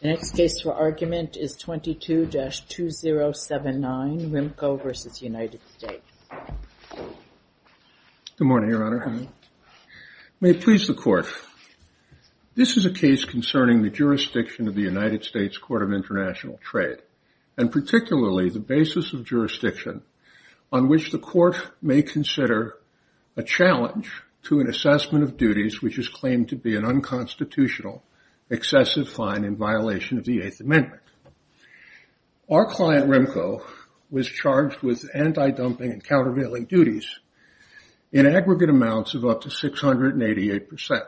The next case for argument is 22-2079, Rimco v. United States. Good morning, Your Honor. May it please the Court, this is a case concerning the jurisdiction of the United States Court of International Trade, and particularly the basis of jurisdiction on which the Court may consider a challenge to an assessment of duties which is claimed to be an unconstitutional, excessive fine in violation of the Eighth Amendment. Our client, Rimco, was charged with anti-dumping and countervailing duties in aggregate amounts of up to 688%.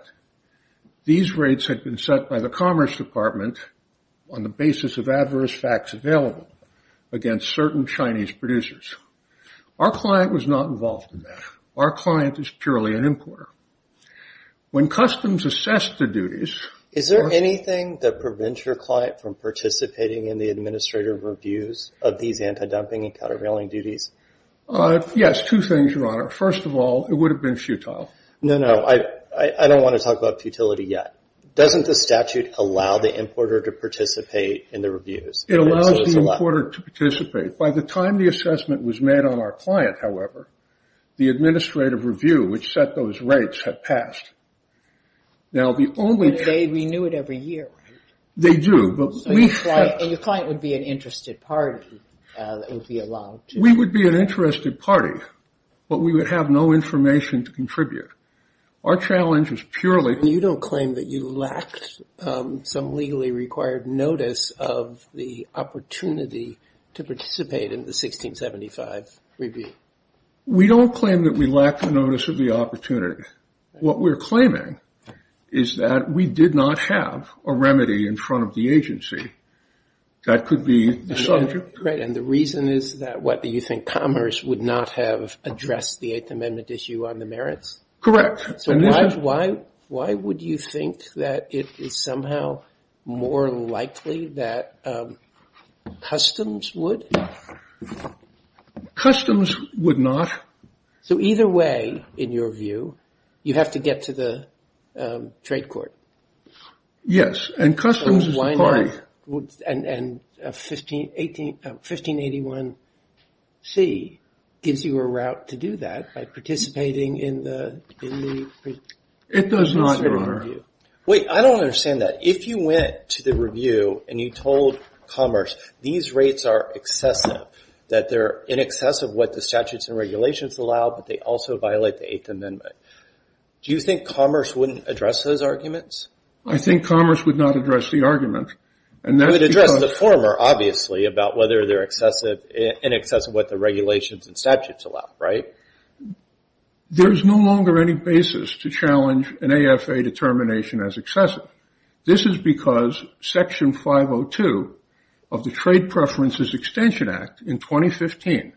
These rates had been set by the Commerce Department on the basis of adverse facts available against certain Chinese producers. Our client was not involved in that. Our client is purely an importer. When customs assessed the duties... Is there anything that prevents your client from participating in the administrative reviews of these anti-dumping and countervailing duties? Yes, two things, Your Honor. First of all, it would have been futile. No, no, I don't want to talk about futility yet. Doesn't the statute allow the importer to participate in the reviews? It allows the importer to participate. By the time the assessment was made on our client, however, the administrative review which set those rates had passed. Now, the only... They renew it every year, right? They do, but we... So your client would be an interested party that would be allowed to... We would be an interested party, but we would have no information to contribute. Our challenge is purely... We don't claim that we lack the notice of the opportunity. What we're claiming is that we did not have a remedy in front of the agency. That could be the subject. Right, and the reason is that, what, do you think Commerce would not have addressed the Eighth Amendment issue on the merits? Correct. So why would you think that it is somehow more likely that customs would? Customs would not... So either way, in your view, you have to get to the trade court. Yes, and customs... And 1581C gives you a route to do that by participating in the administrative review. It does not, Your Honor. Wait, I don't understand that. If you went to the review and you told Commerce, these rates are excessive, that they're in excess of what the statutes and regulations allow, but they also violate the Eighth Amendment, do you think Commerce wouldn't address those arguments? I think Commerce would not address the argument, and that's because... It would address the former, obviously, about whether they're in excess of what the regulations and statutes allow, right? There's no longer any basis to challenge an AFA determination as excessive. This is because Section 502 of the Trade Preferences Extension Act in 2015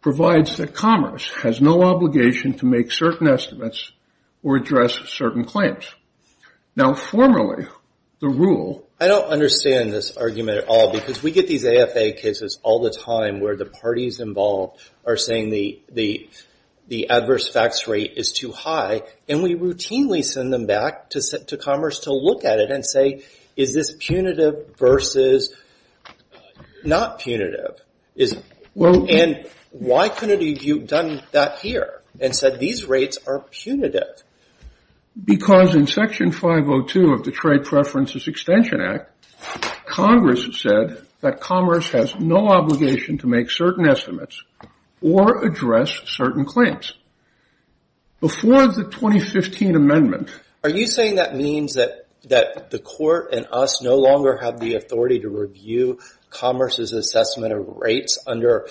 provides that Commerce has no obligation to make certain estimates or address certain claims. Now, formerly, the rule... I don't understand this argument at all, because we get these AFA cases all the time where the parties involved are saying the adverse facts rate is too high, and we routinely send them back to Commerce to look at it and say, is this punitive versus not punitive? And why couldn't you have done that here and said, these rates are punitive? Because in Section 502 of the Trade Preferences Extension Act, Congress said that Commerce has no obligation to make certain estimates or address certain claims. Before the 2015 amendment... Are you saying that means that the court and us no longer have the authority to review Commerce's assessment of rates under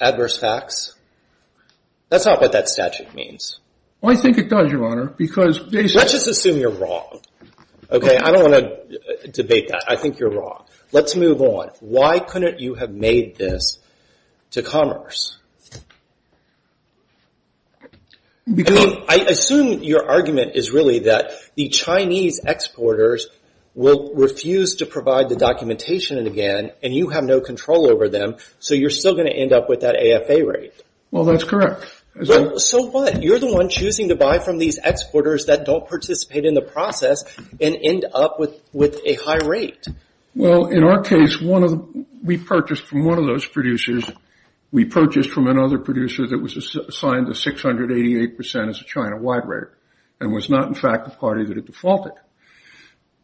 adverse facts? That's not what that statute means. I think it does, Your Honor, because... Let's just assume you're wrong. I don't want to debate that. I think you're wrong. Let's move on. Why couldn't you have made this to Commerce? I assume your argument is really that the Chinese exporters will refuse to provide the documentation again, and you have no control over them, so you're still going to end up with that AFA rate. Well, that's correct. So what? You're the one choosing to buy from these exporters that don't participate in the process and end up with a high rate. Well, in our case, we purchased from one of those producers. We purchased from another producer that was assigned the 688% as a China-wide rate and was not, in fact, the party that had defaulted.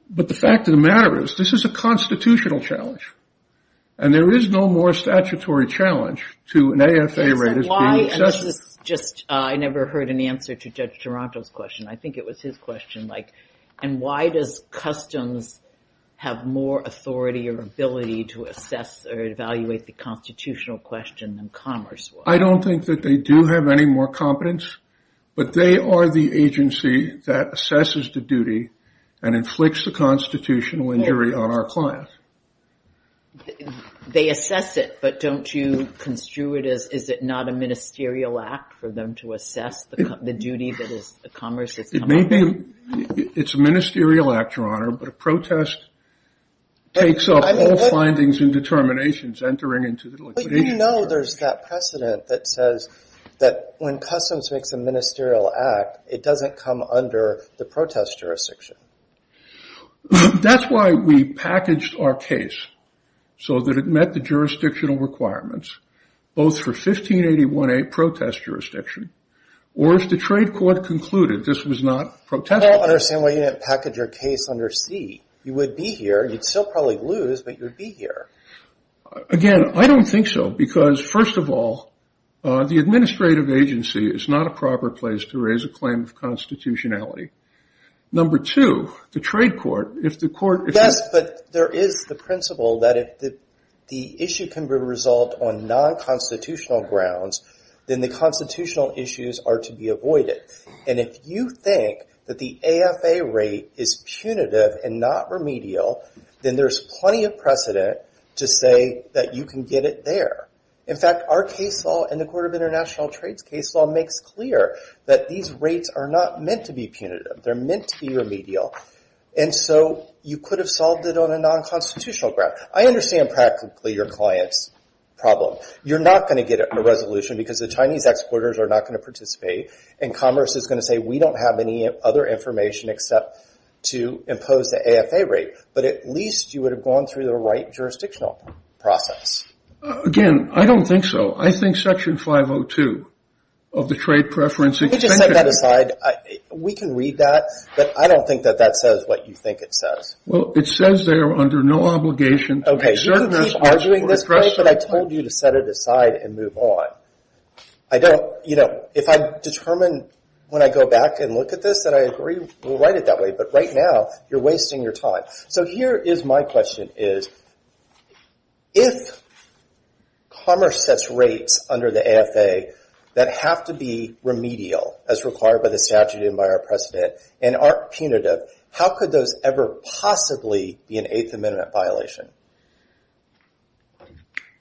But the fact of the matter is this is a constitutional challenge, and there is no more statutory challenge to an AFA rate as being excessive. I never heard an answer to Judge Taranto's question. I think it was his question, like, and why does Customs have more authority or ability to assess or evaluate the constitutional question than Commerce would? I don't think that they do have any more competence, but they are the agency that assesses the duty and inflicts the constitutional injury on our clients. They assess it, but don't you construe it as, is it not a ministerial act for them to assess the duty that is Commerce's? It may be. It's a ministerial act, Your Honor, but a protest takes up all findings and determinations entering into the liquidation. But you know there's that precedent that says that when Customs makes a ministerial act, it doesn't come under the protest jurisdiction. That's why we packaged our case so that it met the jurisdictional requirements, both for 1581A protest jurisdiction, or as the trade court concluded, this was not protest jurisdiction. I don't understand why you didn't package your case under C. You would be here. You'd still probably lose, but you'd be here. Again, I don't think so because, first of all, the administrative agency is not a proper place to raise a claim of constitutionality. Number two, the trade court, if the court— Yes, but there is the principle that if the issue can be resolved on non-constitutional grounds, then the constitutional issues are to be avoided. And if you think that the AFA rate is punitive and not remedial, then there's plenty of precedent to say that you can get it there. In fact, our case law and the Court of International Trades case law makes clear that these rates are not meant to be punitive. They're meant to be remedial. And so you could have solved it on a non-constitutional ground. I understand practically your client's problem. You're not going to get a resolution because the Chinese exporters are not going to participate, and commerce is going to say we don't have any other information except to impose the AFA rate. But at least you would have gone through the right jurisdictional process. Again, I don't think so. I think Section 502 of the Trade Preference— Let me just set that aside. We can read that, but I don't think that that says what you think it says. Well, it says there under no obligation— Okay, you can keep arguing this way, but I told you to set it aside and move on. I don't—you know, if I determine when I go back and look at this that I agree, we'll write it that way, but right now you're wasting your time. So here is my question is, if commerce sets rates under the AFA that have to be remedial, as required by the statute and by our precedent, and aren't punitive, how could those ever possibly be an Eighth Amendment violation?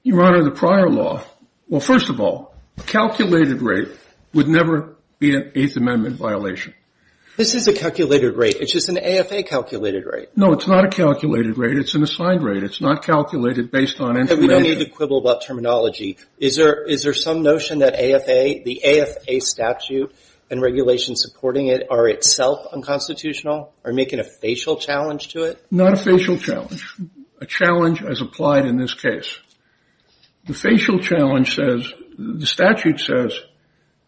Your Honor, the prior law—well, first of all, a calculated rate would never be an Eighth Amendment violation. This is a calculated rate. It's just an AFA calculated rate. No, it's not a calculated rate. It's an assigned rate. It's not calculated based on information. We don't need to quibble about terminology. Is there some notion that the AFA statute and regulations supporting it are itself unconstitutional, are making a facial challenge to it? Not a facial challenge. A challenge as applied in this case. The facial challenge says—the statute says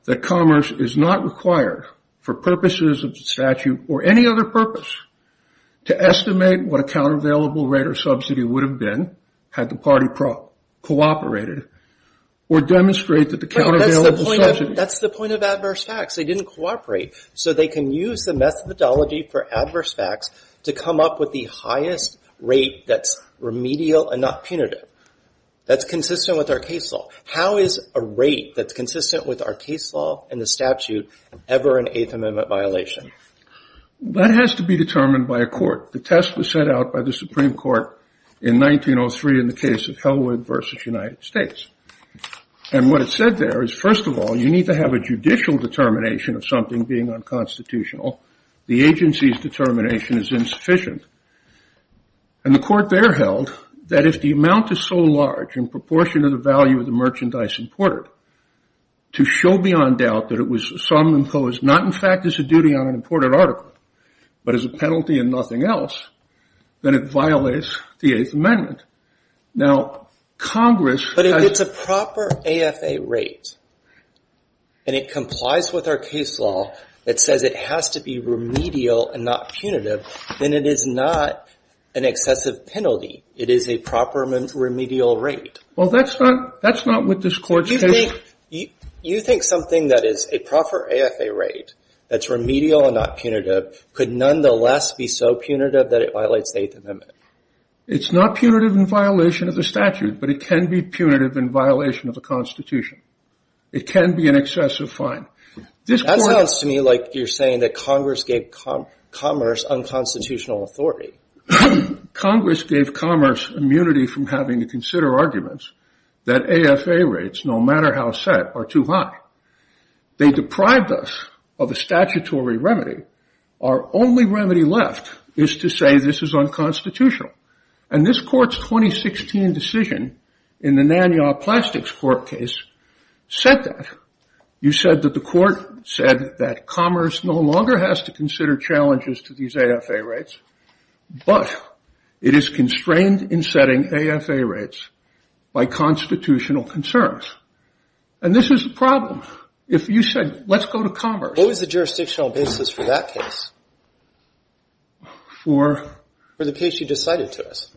that commerce is not required for purposes of the statute or any other purpose to estimate what a countervailable rate or subsidy would have been had the party cooperated or demonstrated that the countervailable subsidy— That's the point of adverse facts. They didn't cooperate, so they can use the methodology for adverse facts to come up with the highest rate that's remedial and not punitive. That's consistent with our case law. How is a rate that's consistent with our case law and the statute ever an Eighth Amendment violation? That has to be determined by a court. The test was set out by the Supreme Court in 1903 in the case of Hellwood v. United States. And what it said there is, first of all, you need to have a judicial determination of something being unconstitutional. The agency's determination is insufficient. And the court there held that if the amount is so large in proportion to the value of the merchandise imported, to show beyond doubt that it was some imposed, not in fact as a duty on an imported article, but as a penalty and nothing else, then it violates the Eighth Amendment. Now, Congress— But if it's a proper AFA rate and it complies with our case law that says it has to be remedial and not punitive, then it is not an excessive penalty. It is a proper remedial rate. Well, that's not what this court's case— You think something that is a proper AFA rate that's remedial and not punitive could nonetheless be so punitive that it violates the Eighth Amendment? It's not punitive in violation of the statute, but it can be punitive in violation of the Constitution. It can be an excessive fine. That sounds to me like you're saying that Congress gave commerce unconstitutional authority. Congress gave commerce immunity from having to consider arguments that AFA rates, no matter how set, are too high. They deprived us of a statutory remedy. Our only remedy left is to say this is unconstitutional. And this court's 2016 decision in the Nanyang Plastics Court case said that. You said that the court said that commerce no longer has to consider challenges to these AFA rates, but it is constrained in setting AFA rates by constitutional concerns. And this is the problem. If you said, let's go to commerce— What was the jurisdictional basis for that case? For— For the case you just cited to us.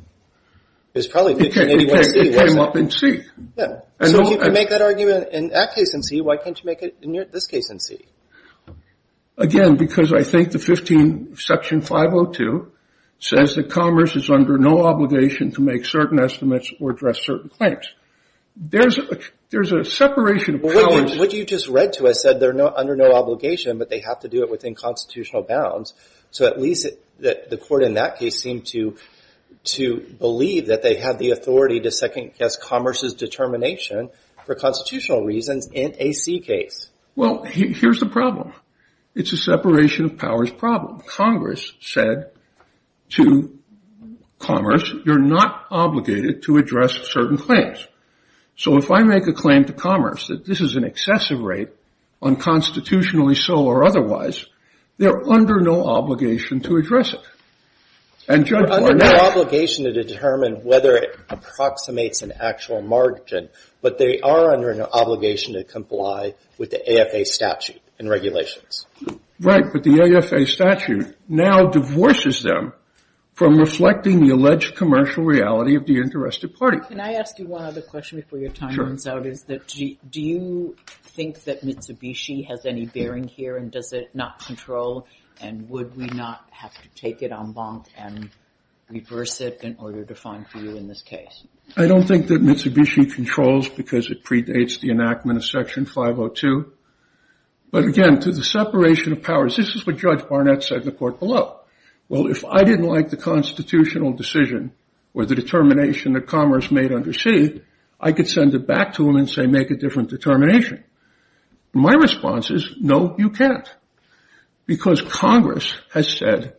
It was probably— It came up in C. Yeah. So you can make that argument in that case in C. Why can't you make it in this case in C? Again, because I think the 15, Section 502, says that commerce is under no obligation to make certain estimates or address certain claims. There's a separation of powers— What you just read to us said they're under no obligation, but they have to do it within constitutional bounds. So at least the court in that case seemed to believe that they had the authority to second-guess commerce's determination for constitutional reasons in a C case. Well, here's the problem. It's a separation of powers problem. Congress said to commerce, you're not obligated to address certain claims. So if I make a claim to commerce that this is an excessive rate, unconstitutionally so or otherwise, they're under no obligation to address it. And judges are not— Under no obligation to determine whether it approximates an actual margin, but they are under an obligation to comply with the AFA statute and regulations. Right. But the AFA statute now divorces them from reflecting the alleged commercial reality of the interested party. Mark, can I ask you one other question before your time runs out? Sure. Do you think that Mitsubishi has any bearing here, and does it not control, and would we not have to take it en banc and reverse it in order to find for you in this case? I don't think that Mitsubishi controls because it predates the enactment of Section 502. But again, to the separation of powers, this is what Judge Barnett said in the court below. Well, if I didn't like the constitutional decision or the determination that commerce made under C, I could send it back to him and say, make a different determination. My response is, no, you can't. Because Congress has said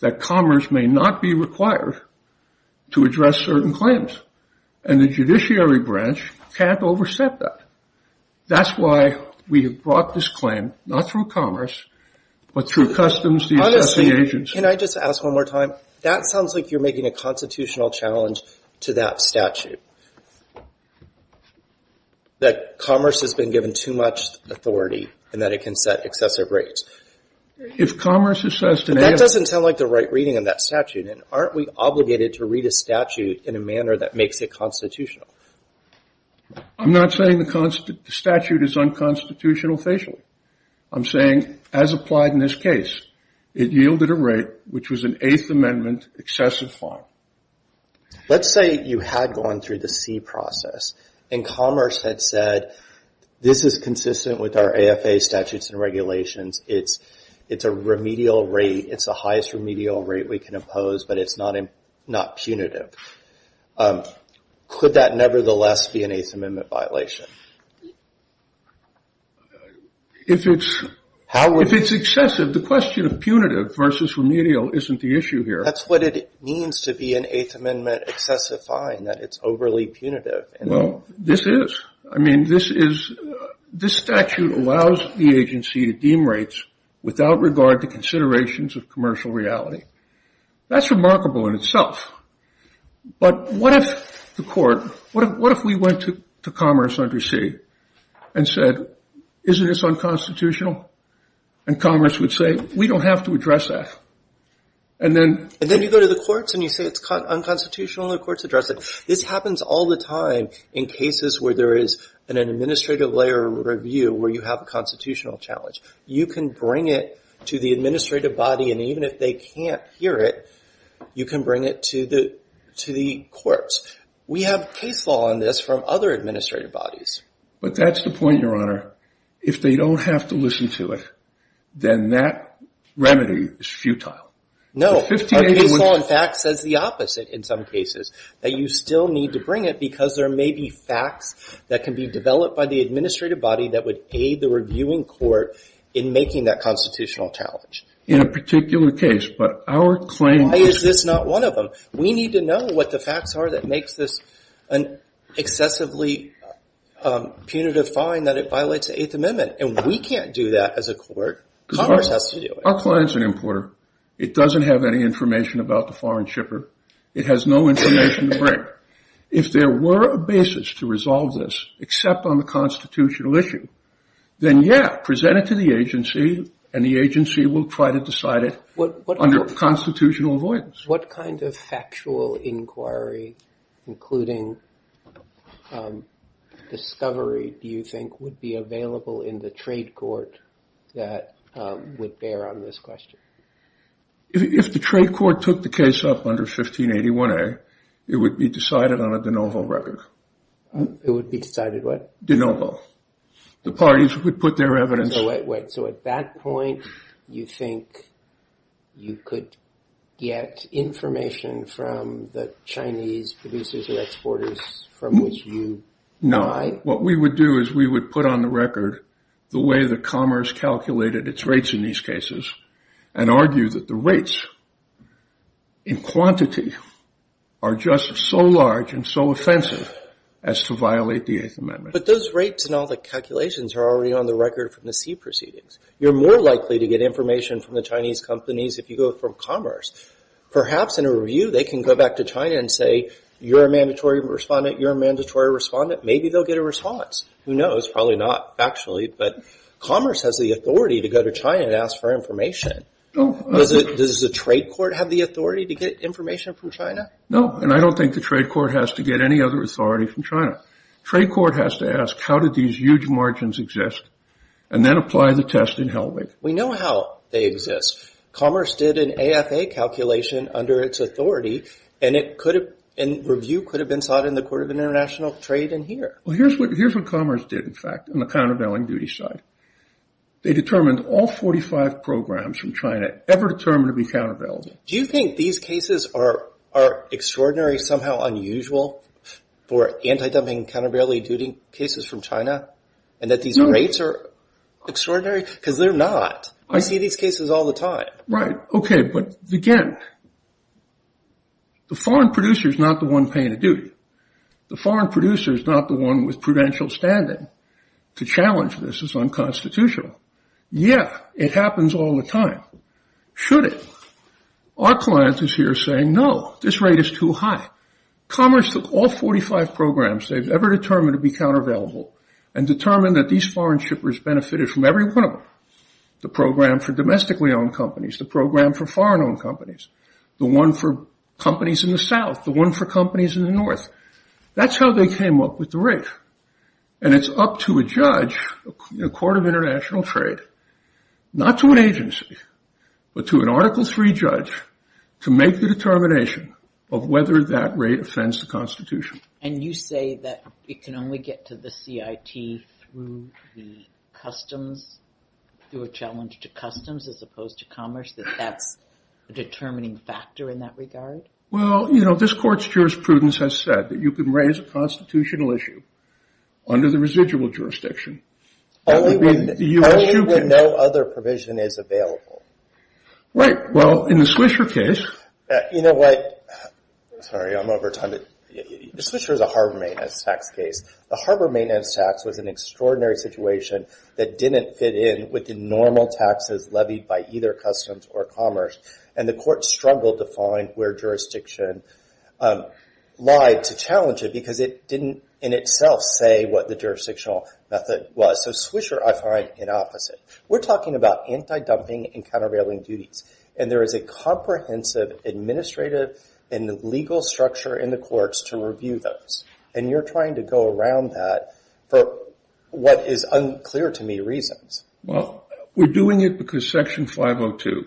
that commerce may not be required to address certain claims, and the judiciary branch can't overstep that. That's why we have brought this claim, not through commerce, but through customs, the assessing agents. Honestly, can I just ask one more time? That sounds like you're making a constitutional challenge to that statute, that commerce has been given too much authority and that it can set excessive rates. If commerce assessed an AFA – But that doesn't sound like the right reading of that statute. And aren't we obligated to read a statute in a manner that makes it constitutional? I'm not saying the statute is unconstitutional facially. I'm saying, as applied in this case, it yielded a rate which was an Eighth Amendment excessive fine. Let's say you had gone through the C process, and commerce had said, this is consistent with our AFA statutes and regulations. It's a remedial rate. It's the highest remedial rate we can impose, but it's not punitive. Could that nevertheless be an Eighth Amendment violation? If it's excessive, the question of punitive versus remedial isn't the issue here. That's what it means to be an Eighth Amendment excessive fine, that it's overly punitive. Well, this is. I mean, this statute allows the agency to deem rates without regard to considerations of commercial reality. That's remarkable in itself. But what if the court, what if we went to commerce under C and said, isn't this unconstitutional? And commerce would say, we don't have to address that. And then you go to the courts and you say it's unconstitutional, and the courts address it. This happens all the time in cases where there is an administrative layer review where you have a constitutional challenge. You can bring it to the administrative body, and even if they can't hear it, you can bring it to the courts. We have case law on this from other administrative bodies. But that's the point, Your Honor. If they don't have to listen to it, then that remedy is futile. No. Our case law, in fact, says the opposite in some cases. That you still need to bring it because there may be facts that can be developed by the administrative body that would aid the reviewing court in making that constitutional challenge. In a particular case, but our claim is... Why is this not one of them? We need to know what the facts are that makes this an excessively punitive fine that it violates the Eighth Amendment. And we can't do that as a court. Commerce has to do it. Our client's an importer. It doesn't have any information about the foreign shipper. It has no information to bring. If there were a basis to resolve this, except on the constitutional issue, then, yeah, present it to the agency, and the agency will try to decide it under constitutional avoidance. What kind of factual inquiry, including discovery, do you think would be available in the trade court that would bear on this question? If the trade court took the case up under 1581A, it would be decided on a de novo record. It would be decided what? De novo. The parties would put their evidence... So at that point, you think you could get information from the Chinese producers or exporters from which you buy? No. What we would do is we would put on the record the way that commerce calculated its rates in these cases and argue that the rates in quantity are just so large and so offensive as to violate the Eighth Amendment. But those rates and all the calculations are already on the record from the sea proceedings. You're more likely to get information from the Chinese companies if you go from commerce. Perhaps in a review, they can go back to China and say, you're a mandatory respondent, you're a mandatory respondent. Maybe they'll get a response. Who knows? Probably not factually, but commerce has the authority to go to China and ask for information. Does the trade court have the authority to get information from China? No, and I don't think the trade court has to get any other authority from China. The trade court has to ask, how did these huge margins exist, and then apply the test in Helwig. We know how they exist. Commerce did an AFA calculation under its authority, and review could have been sought in the court of international trade in here. Well, here's what commerce did, in fact, on the countervailing duty side. They determined all 45 programs from China ever determined to be countervailing. Do you think these cases are extraordinary, somehow unusual for anti-dumping, countervailing duty cases from China, and that these rates are extraordinary? Because they're not. I see these cases all the time. Right, okay, but again, the foreign producer is not the one paying the duty. The foreign producer is not the one with prudential standing. To challenge this is unconstitutional. Yeah, it happens all the time. Should it? Our client is here saying, no, this rate is too high. Commerce took all 45 programs they've ever determined to be countervailable, and determined that these foreign shippers benefited from every one of them. The program for domestically owned companies. The program for foreign owned companies. The one for companies in the south. The one for companies in the north. That's how they came up with the rate. And it's up to a judge, a court of international trade, not to an agency, but to an Article III judge, to make the determination of whether that rate offends the Constitution. And you say that it can only get to the CIT through the customs, through a challenge to customs as opposed to commerce, that that's a determining factor in that regard? Well, you know, this court's jurisprudence has said that you can raise a constitutional issue under the residual jurisdiction. Only when no other provision is available. Right, well, in the Swisher case. You know what? Sorry, I'm over time. The Swisher is a harbor maintenance tax case. The harbor maintenance tax was an extraordinary situation that didn't fit in with the normal taxes levied by either customs or commerce. And the court struggled to find where jurisdiction lied to challenge it, because it didn't in itself say what the jurisdictional method was. So Swisher, I find, in opposite. We're talking about anti-dumping and countervailing duties. And there is a comprehensive administrative and legal structure in the courts to review those. And you're trying to go around that for what is unclear to me reasons. Well, we're doing it because Section 502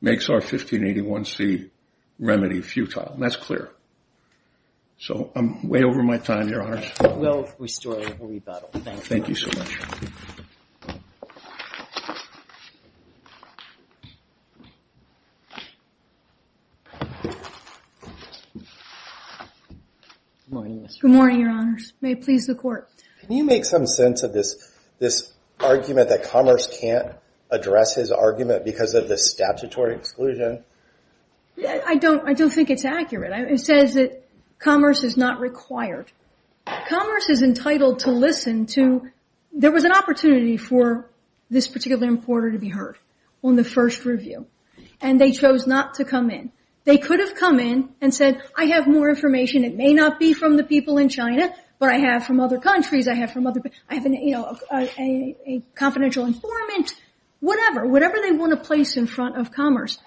makes our 1581c remedy futile. And that's clear. So I'm way over my time, Your Honors. We'll restore and rebuttal. Thank you. Thank you so much. Good morning, Your Honors. May it please the court. Can you make some sense of this argument that commerce can't address his argument because of the statutory exclusion? I don't think it's accurate. It says that commerce is not required. Commerce is entitled to listen to. There was an opportunity for this particular importer to be heard on the first review. And they chose not to come in. They could have come in and said, I have more information. It may not be from the people in China, but I have from other countries. I have from other people. I have a confidential informant. Whatever. Whatever they want to place in front of commerce.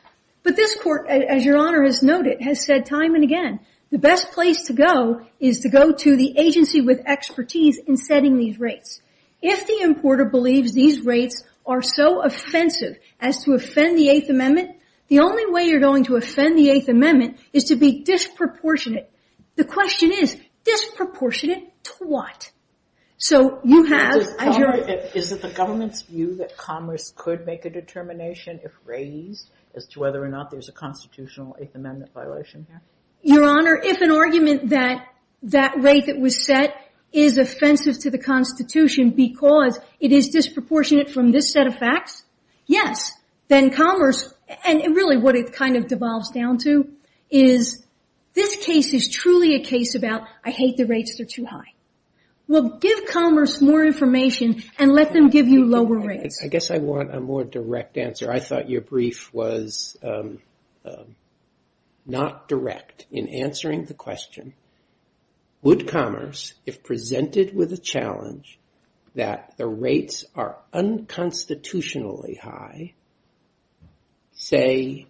But this court, as Your Honor has noted, has said time and again, the best place to go is to go to the agency with expertise in setting these rates. If the importer believes these rates are so offensive as to offend the Eighth Amendment, the only way you're going to offend the Eighth Amendment is to be disproportionate. The question is, disproportionate to what? So you have – Is it the government's view that commerce could make a determination if raised as to whether or not there's a constitutional Eighth Amendment violation here? Your Honor, if an argument that that rate that was set is offensive to the Constitution because it is disproportionate from this set of facts, yes. Then commerce, and really what it kind of devolves down to, is this case is truly a case about I hate the rates, they're too high. Well, give commerce more information and let them give you lower rates. I guess I want a more direct answer. I thought your brief was not direct in answering the question. Would commerce, if presented with a challenge that the rates are unconstitutionally high,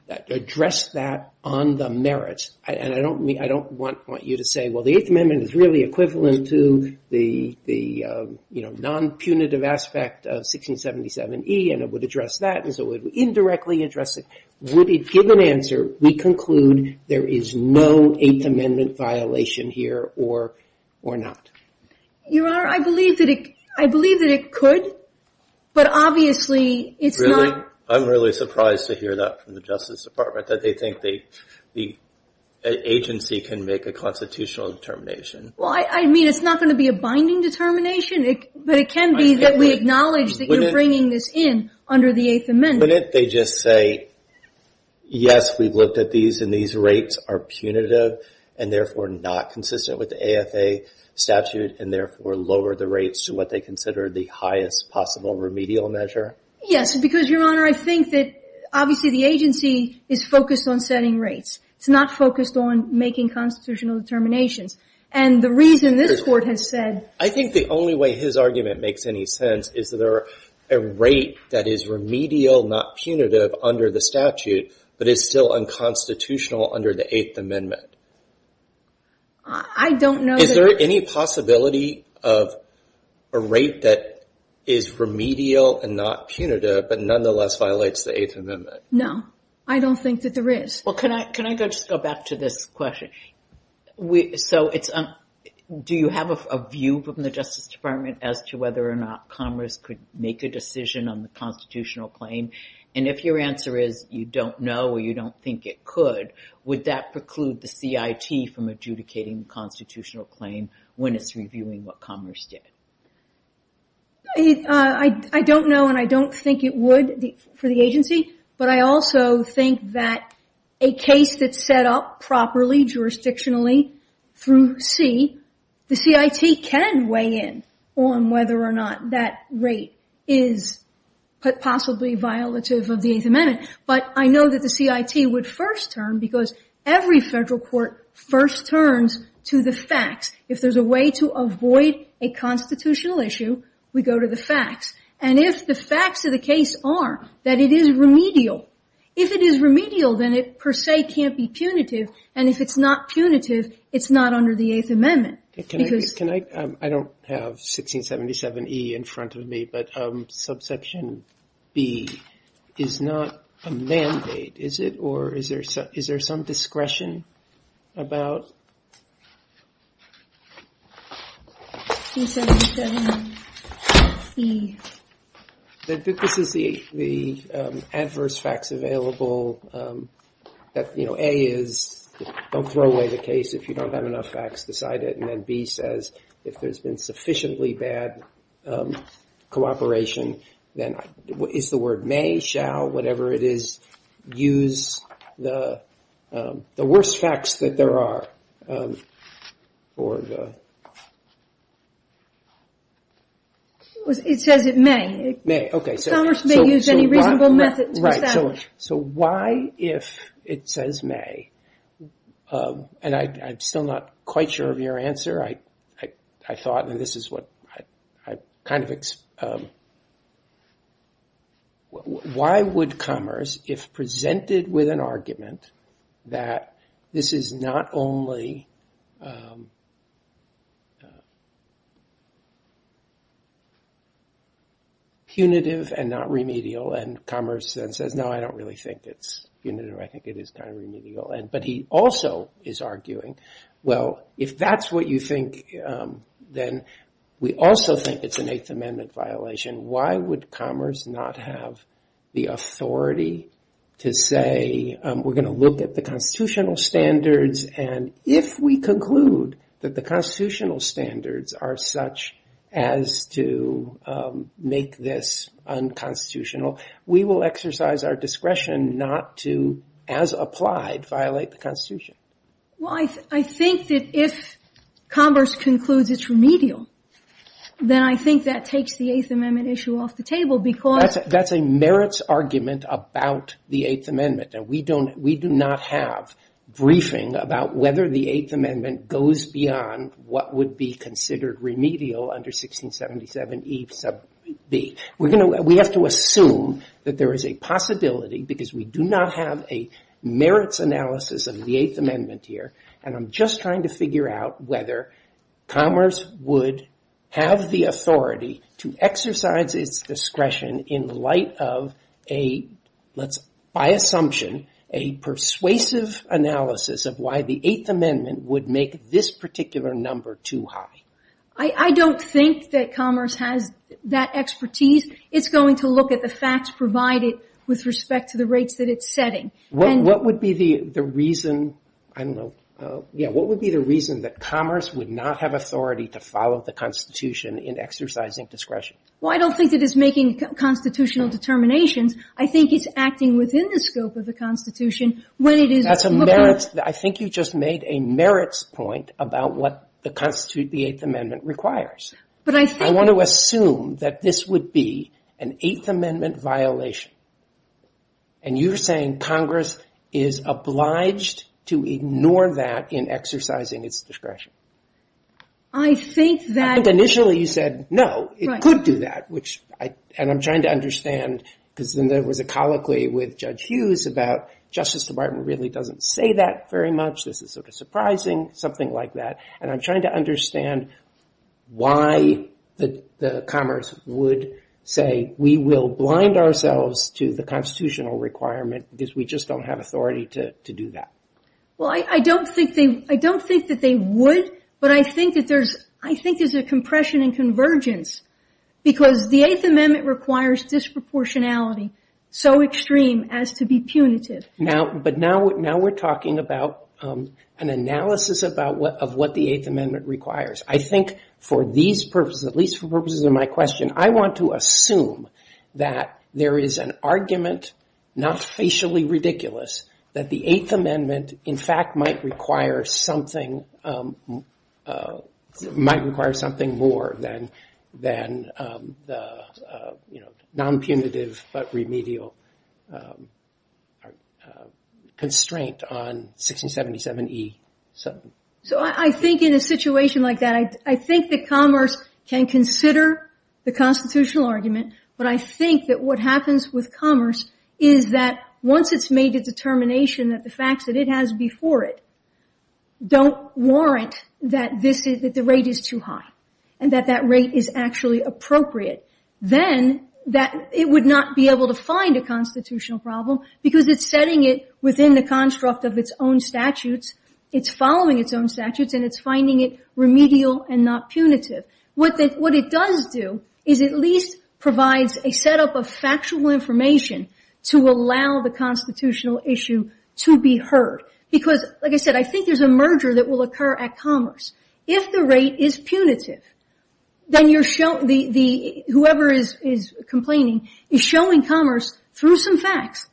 address that on the merits? And I don't want you to say, well, the Eighth Amendment is really equivalent to the non-punitive aspect of 1677E, and it would address that as it would indirectly address it. Would it give an answer, we conclude there is no Eighth Amendment violation here or not? Your Honor, I believe that it could, but obviously it's not – Really? I'm really surprised to hear that from the Justice Department, that they think the agency can make a constitutional determination. Well, I mean, it's not going to be a binding determination, but it can be that we acknowledge that you're bringing this in under the Eighth Amendment. Wouldn't they just say, yes, we've looked at these and these rates are punitive and therefore not consistent with the AFA statute and therefore lower the rates to what they consider the highest possible remedial measure? Yes, because, Your Honor, I think that obviously the agency is focused on setting rates. It's not focused on making constitutional determinations. And the reason this Court has said – I think the only way his argument makes any sense is that there are – a rate that is remedial, not punitive under the statute, but is still unconstitutional under the Eighth Amendment. I don't know that – Is there any possibility of a rate that is remedial and not punitive, but nonetheless violates the Eighth Amendment? No, I don't think that there is. Well, can I just go back to this question? So it's – do you have a view from the Justice Department as to whether or not Commerce could make a decision on the constitutional claim? And if your answer is you don't know or you don't think it could, would that preclude the CIT from adjudicating the constitutional claim when it's reviewing what Commerce did? I don't know and I don't think it would for the agency, but I also think that a case that's set up properly jurisdictionally through C, the CIT can weigh in on whether or not that rate is possibly violative of the Eighth Amendment. But I know that the CIT would first turn, because every federal court first turns to the facts. If there's a way to avoid a constitutional issue, we go to the facts. And if the facts of the case are that it is remedial, if it is remedial, then it per se can't be punitive. And if it's not punitive, it's not under the Eighth Amendment. Can I – I don't have 1677E in front of me, but subsection B is not a mandate, is it? Or is there some discretion about – 1677C. This is the adverse facts available that, you know, A is don't throw away the case. If you don't have enough facts, decide it. And then B says if there's been sufficiently bad cooperation, then is the word may, shall, whatever it is, use the worst facts that there are? It says it may. May, okay. Congress may use any reasonable method to establish. Right. So why if it says may, and I'm still not quite sure of your answer. I thought, and this is what I kind of – why would Commerce, if presented with an argument that this is not only punitive and not remedial, and Commerce then says, no, I don't really think it's punitive. But he also is arguing, well, if that's what you think, then we also think it's an Eighth Amendment violation. Why would Commerce not have the authority to say, we're going to look at the constitutional standards, and if we conclude that the constitutional standards are such as to make this unconstitutional, we will exercise our discretion not to, as applied, violate the Constitution? Well, I think that if Commerce concludes it's remedial, then I think that takes the Eighth Amendment issue off the table because – That's a merits argument about the Eighth Amendment. We do not have briefing about whether the Eighth Amendment goes beyond what would be considered remedial under 1677E sub B. We have to assume that there is a possibility, because we do not have a merits analysis of the Eighth Amendment here, and I'm just trying to figure out whether Commerce would have the authority to exercise its discretion in light of a, by assumption, a persuasive analysis of why the Eighth Amendment would make this particular number too high. I don't think that Commerce has that expertise. It's going to look at the facts provided with respect to the rates that it's setting. What would be the reason, I don't know, yeah, what would be the reason that Commerce would not have authority to follow the Constitution in exercising discretion? Well, I don't think it is making constitutional determinations. I think it's acting within the scope of the Constitution when it is – That's a merits – I think you just made a merits point about what the statute, the Eighth Amendment, requires. But I think – I want to assume that this would be an Eighth Amendment violation, and you're saying Congress is obliged to ignore that in exercising its discretion. I think that – I think initially you said, no, it could do that, which I – and I'm trying to understand, because then there was a colloquy with Judge Hughes about Justice Department really doesn't say that very much, this is sort of surprising, something like that. And I'm trying to understand why Commerce would say we will blind ourselves to the constitutional requirement because we just don't have authority to do that. Well, I don't think they – I don't think that they would, but I think that there's – I think there's a compression and convergence because the Eighth Amendment requires disproportionality so extreme as to be punitive. But now we're talking about an analysis of what the Eighth Amendment requires. I think for these purposes, at least for purposes of my question, I want to assume that there is an argument, not facially ridiculous, that the Eighth Amendment in fact might require something – might require something more than the non-punitive but remedial constraint on 1677E. So I think in a situation like that, I think that Commerce can consider the constitutional argument, but I think that what happens with Commerce is that once it's made a determination that the facts that it has before it don't warrant that this is – that the rate is too high and that that rate is actually appropriate, then it would not be able to find a constitutional problem because it's setting it within the construct of its own statutes. It's following its own statutes and it's finding it remedial and not punitive. What it does do is at least provides a setup of factual information to allow the constitutional issue to be heard because, like I said, I think there's a merger that will occur at Commerce. If the rate is punitive, then whoever is complaining is showing Commerce through some facts.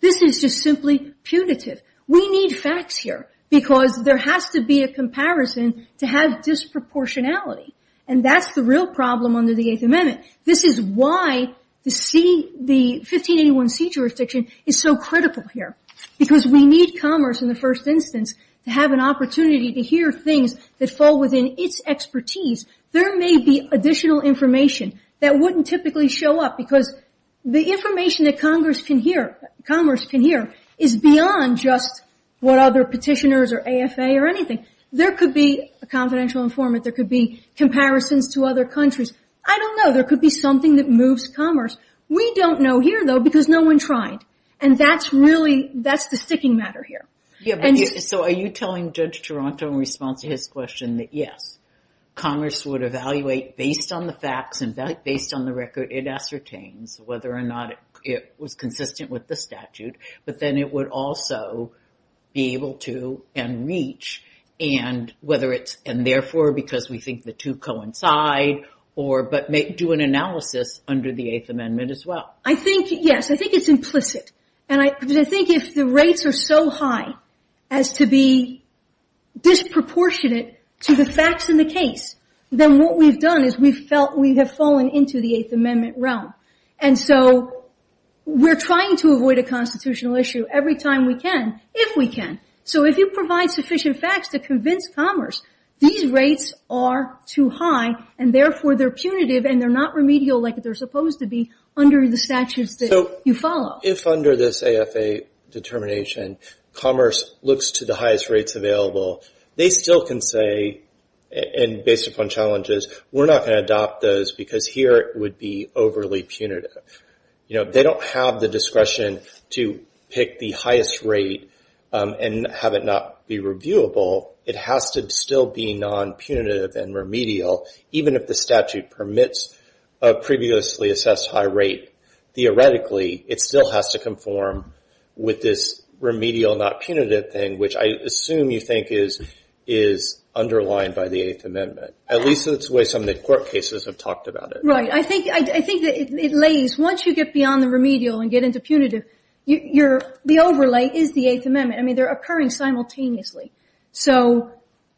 This is just simply punitive. We need facts here because there has to be a comparison to have disproportionality, and that's the real problem under the Eighth Amendment. This is why the 1581C jurisdiction is so critical here because we need Commerce in the first instance to have an opportunity to hear things that fall within its expertise. There may be additional information that wouldn't typically show up because the information that Commerce can hear is beyond just what other petitioners or AFA or anything. There could be a confidential informant. There could be comparisons to other countries. I don't know. There could be something that moves Commerce. We don't know here, though, because no one tried, and that's the sticking matter here. So are you telling Judge Taranto in response to his question that, yes, Commerce would evaluate based on the facts and based on the record it ascertains whether or not it was consistent with the statute, but then it would also be able to and reach and, therefore, because we think the two coincide, but do an analysis under the Eighth Amendment as well? I think, yes. I think it's implicit. And I think if the rates are so high as to be disproportionate to the facts in the case, then what we've done is we have fallen into the Eighth Amendment realm. And so we're trying to avoid a constitutional issue every time we can, if we can. So if you provide sufficient facts to convince Commerce these rates are too high and, therefore, they're punitive and they're not remedial like they're in the statutes that you follow. If under this AFA determination Commerce looks to the highest rates available, they still can say, and based upon challenges, we're not going to adopt those because here it would be overly punitive. They don't have the discretion to pick the highest rate and have it not be reviewable. It has to still be non-punitive and remedial, even if the statute permits a previously assessed high rate. Theoretically, it still has to conform with this remedial, not punitive thing, which I assume you think is underlined by the Eighth Amendment. At least that's the way some of the court cases have talked about it. Right. I think it lays, once you get beyond the remedial and get into punitive, the overlay is the Eighth Amendment. I mean, they're occurring simultaneously. So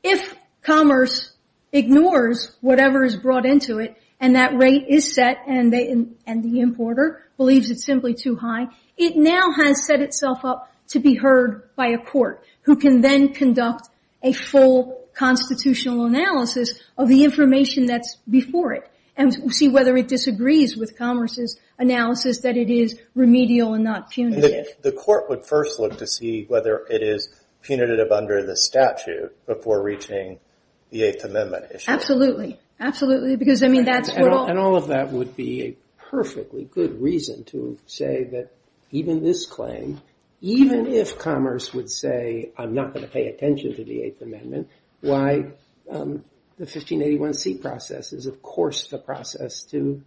if Commerce ignores whatever is brought into it and that rate is set and the importer believes it's simply too high, it now has set itself up to be heard by a court who can then conduct a full constitutional analysis of the information that's before it and see whether it disagrees with Commerce's analysis that it is remedial and not punitive. I mean, the court would first look to see whether it is punitive under the statute before reaching the Eighth Amendment issue. Absolutely. And all of that would be a perfectly good reason to say that even this claim, even if Commerce would say, I'm not going to pay attention to the Eighth Amendment, why the 1581C process is, of course, the process to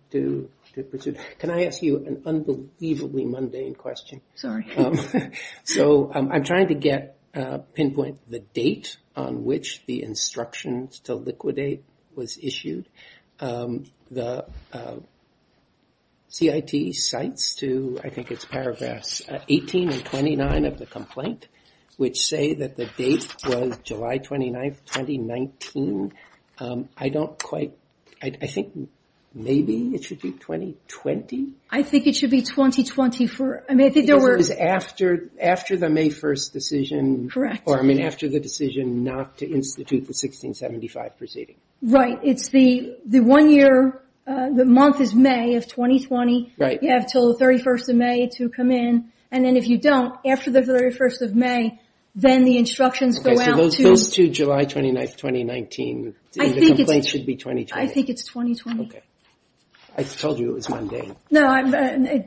pursue. Can I ask you an unbelievably mundane question? Sorry. So I'm trying to pinpoint the date on which the instructions to liquidate was issued. The CIT cites to, I think it's paragraphs 18 and 29 of the complaint, which say that the date was July 29th, 2019. I don't quite... I think maybe it should be 2020? I think it should be 2020. Because it was after the May 1st decision. Correct. Or, I mean, after the decision not to institute the 1675 proceeding. Right. It's the one year, the month is May of 2020. You have until the 31st of May to come in. And then if you don't, after the 31st of May, then the instructions go out to... The complaint should be 2020. I think it's 2020. Okay. I told you it was mundane. No,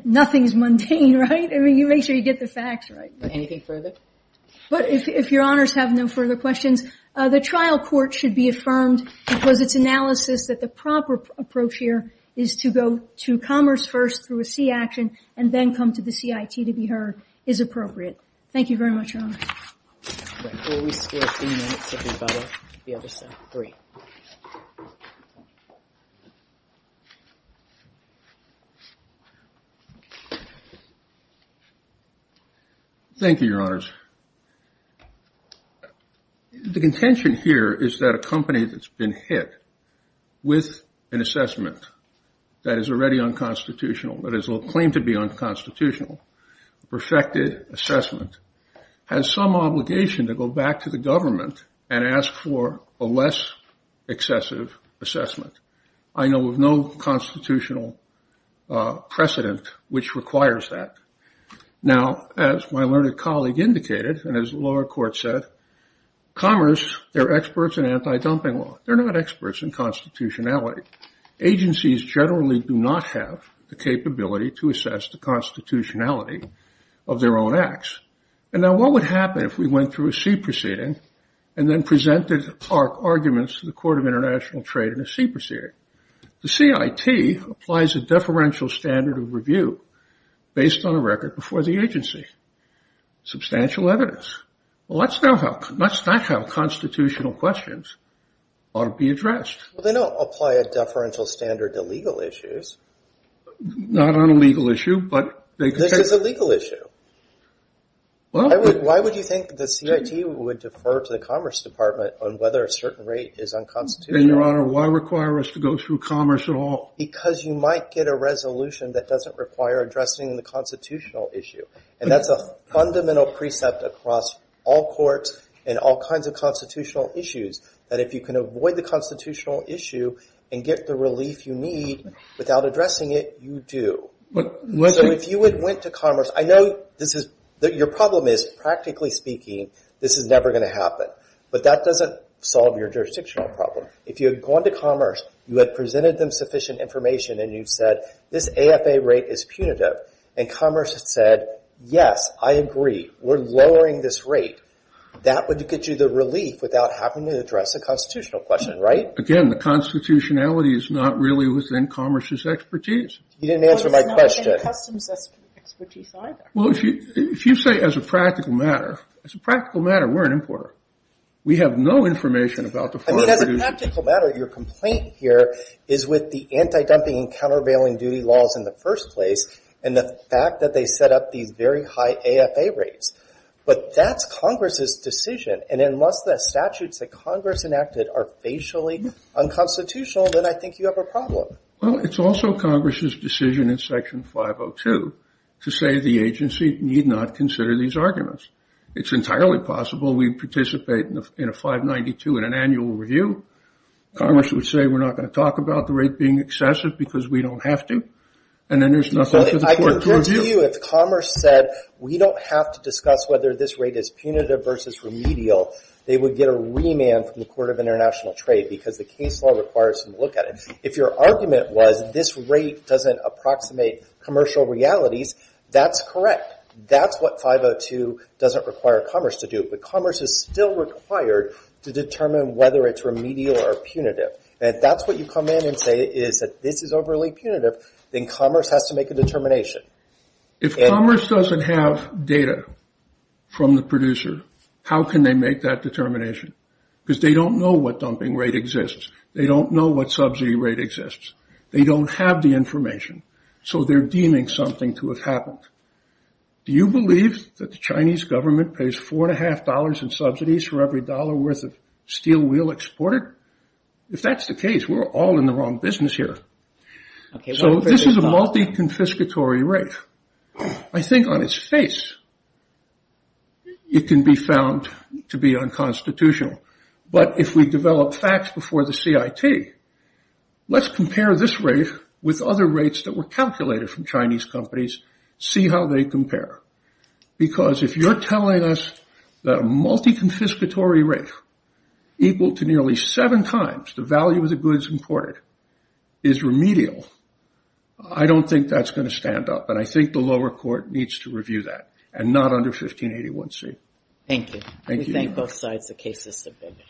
nothing is mundane, right? I mean, you make sure you get the facts right. Anything further? If Your Honors have no further questions, the trial court should be affirmed because its analysis that the proper approach here is to go to commerce first through a C action and then come to the CIT to be heard is appropriate. Thank you very much, Your Honor. We'll reserve three minutes if we'd rather. The other side. Three. Thank you, Your Honors. The contention here is that a company that's been hit with an assessment that is already unconstitutional, that is a claim to be unconstitutional, perfected assessment, has some obligation to go back to the government and ask for a less excessive assessment. I know of no constitutional precedent which requires that. Now, as my learned colleague indicated, and as the lower court said, commerce, they're experts in anti-dumping law. They're not experts in constitutionality. Agencies generally do not have the capability to assess the constitutionality of their own acts. And now what would happen if we went through a C proceeding and then presented our arguments to the Court of International Trade in a C proceeding? The CIT applies a deferential standard of review based on a record before the agency, substantial evidence. Well, that's not how constitutional questions ought to be addressed. Well, they don't apply a deferential standard to legal issues. Not on a legal issue, but they can take it. This is a legal issue. Why would you think the CIT would defer to the Commerce Department on whether a certain rate is unconstitutional? And, Your Honor, why require us to go through commerce at all? Because you might get a resolution that doesn't require addressing the constitutional issue. And that's a fundamental precept across all courts and all kinds of constitutional issues, that if you can avoid the constitutional issue and get the relief you need without addressing it, you do. So if you went to commerce, I know your problem is, practically speaking, this is never going to happen. But that doesn't solve your jurisdictional problem. If you had gone to commerce, you had presented them sufficient information, and you said this AFA rate is punitive, and commerce had said, yes, I agree, we're lowering this rate, that would get you the relief without having to address the constitutional question, right? Again, the constitutionality is not really within commerce's expertise. You didn't answer my question. Well, it's not in customs' expertise either. Well, if you say as a practical matter, as a practical matter, we're an importer. We have no information about the forex duties. I mean, as a practical matter, your complaint here is with the anti-dumping and countervailing duty laws in the first place and the fact that they set up these very high AFA rates. But that's Congress's decision, and unless the statutes that Congress enacted are facially unconstitutional, then I think you have a problem. Well, it's also Congress's decision in Section 502 to say the agency need not consider these arguments. It's entirely possible we participate in a 592 in an annual review. Commerce would say we're not going to talk about the rate being excessive because we don't have to, and then there's nothing for the court to review. If Commerce said we don't have to discuss whether this rate is punitive versus remedial, they would get a remand from the Court of International Trade because the case law requires some look at it. If your argument was this rate doesn't approximate commercial realities, that's correct. That's what 502 doesn't require Commerce to do, but Commerce is still required to determine whether it's remedial or punitive. And if that's what you come in and say is that this is overly punitive, then Commerce has to make a determination. If Commerce doesn't have data from the producer, how can they make that determination? Because they don't know what dumping rate exists. They don't know what subsidy rate exists. They don't have the information, so they're deeming something to have happened. Do you believe that the Chinese government pays $4.50 in subsidies for every dollar worth of steel wheel exported? If that's the case, we're all in the wrong business here. So this is a multi-confiscatory rate. I think on its face, it can be found to be unconstitutional. But if we develop facts before the CIT, let's compare this rate with other rates that were calculated from Chinese companies, see how they compare. Because if you're telling us that a multi-confiscatory rate equal to nearly seven times the value of the goods imported is remedial, I don't think that's going to stand up. And I think the lower court needs to review that and not under 1581C. Thank you. Thank you. We thank both sides. The case is submitted.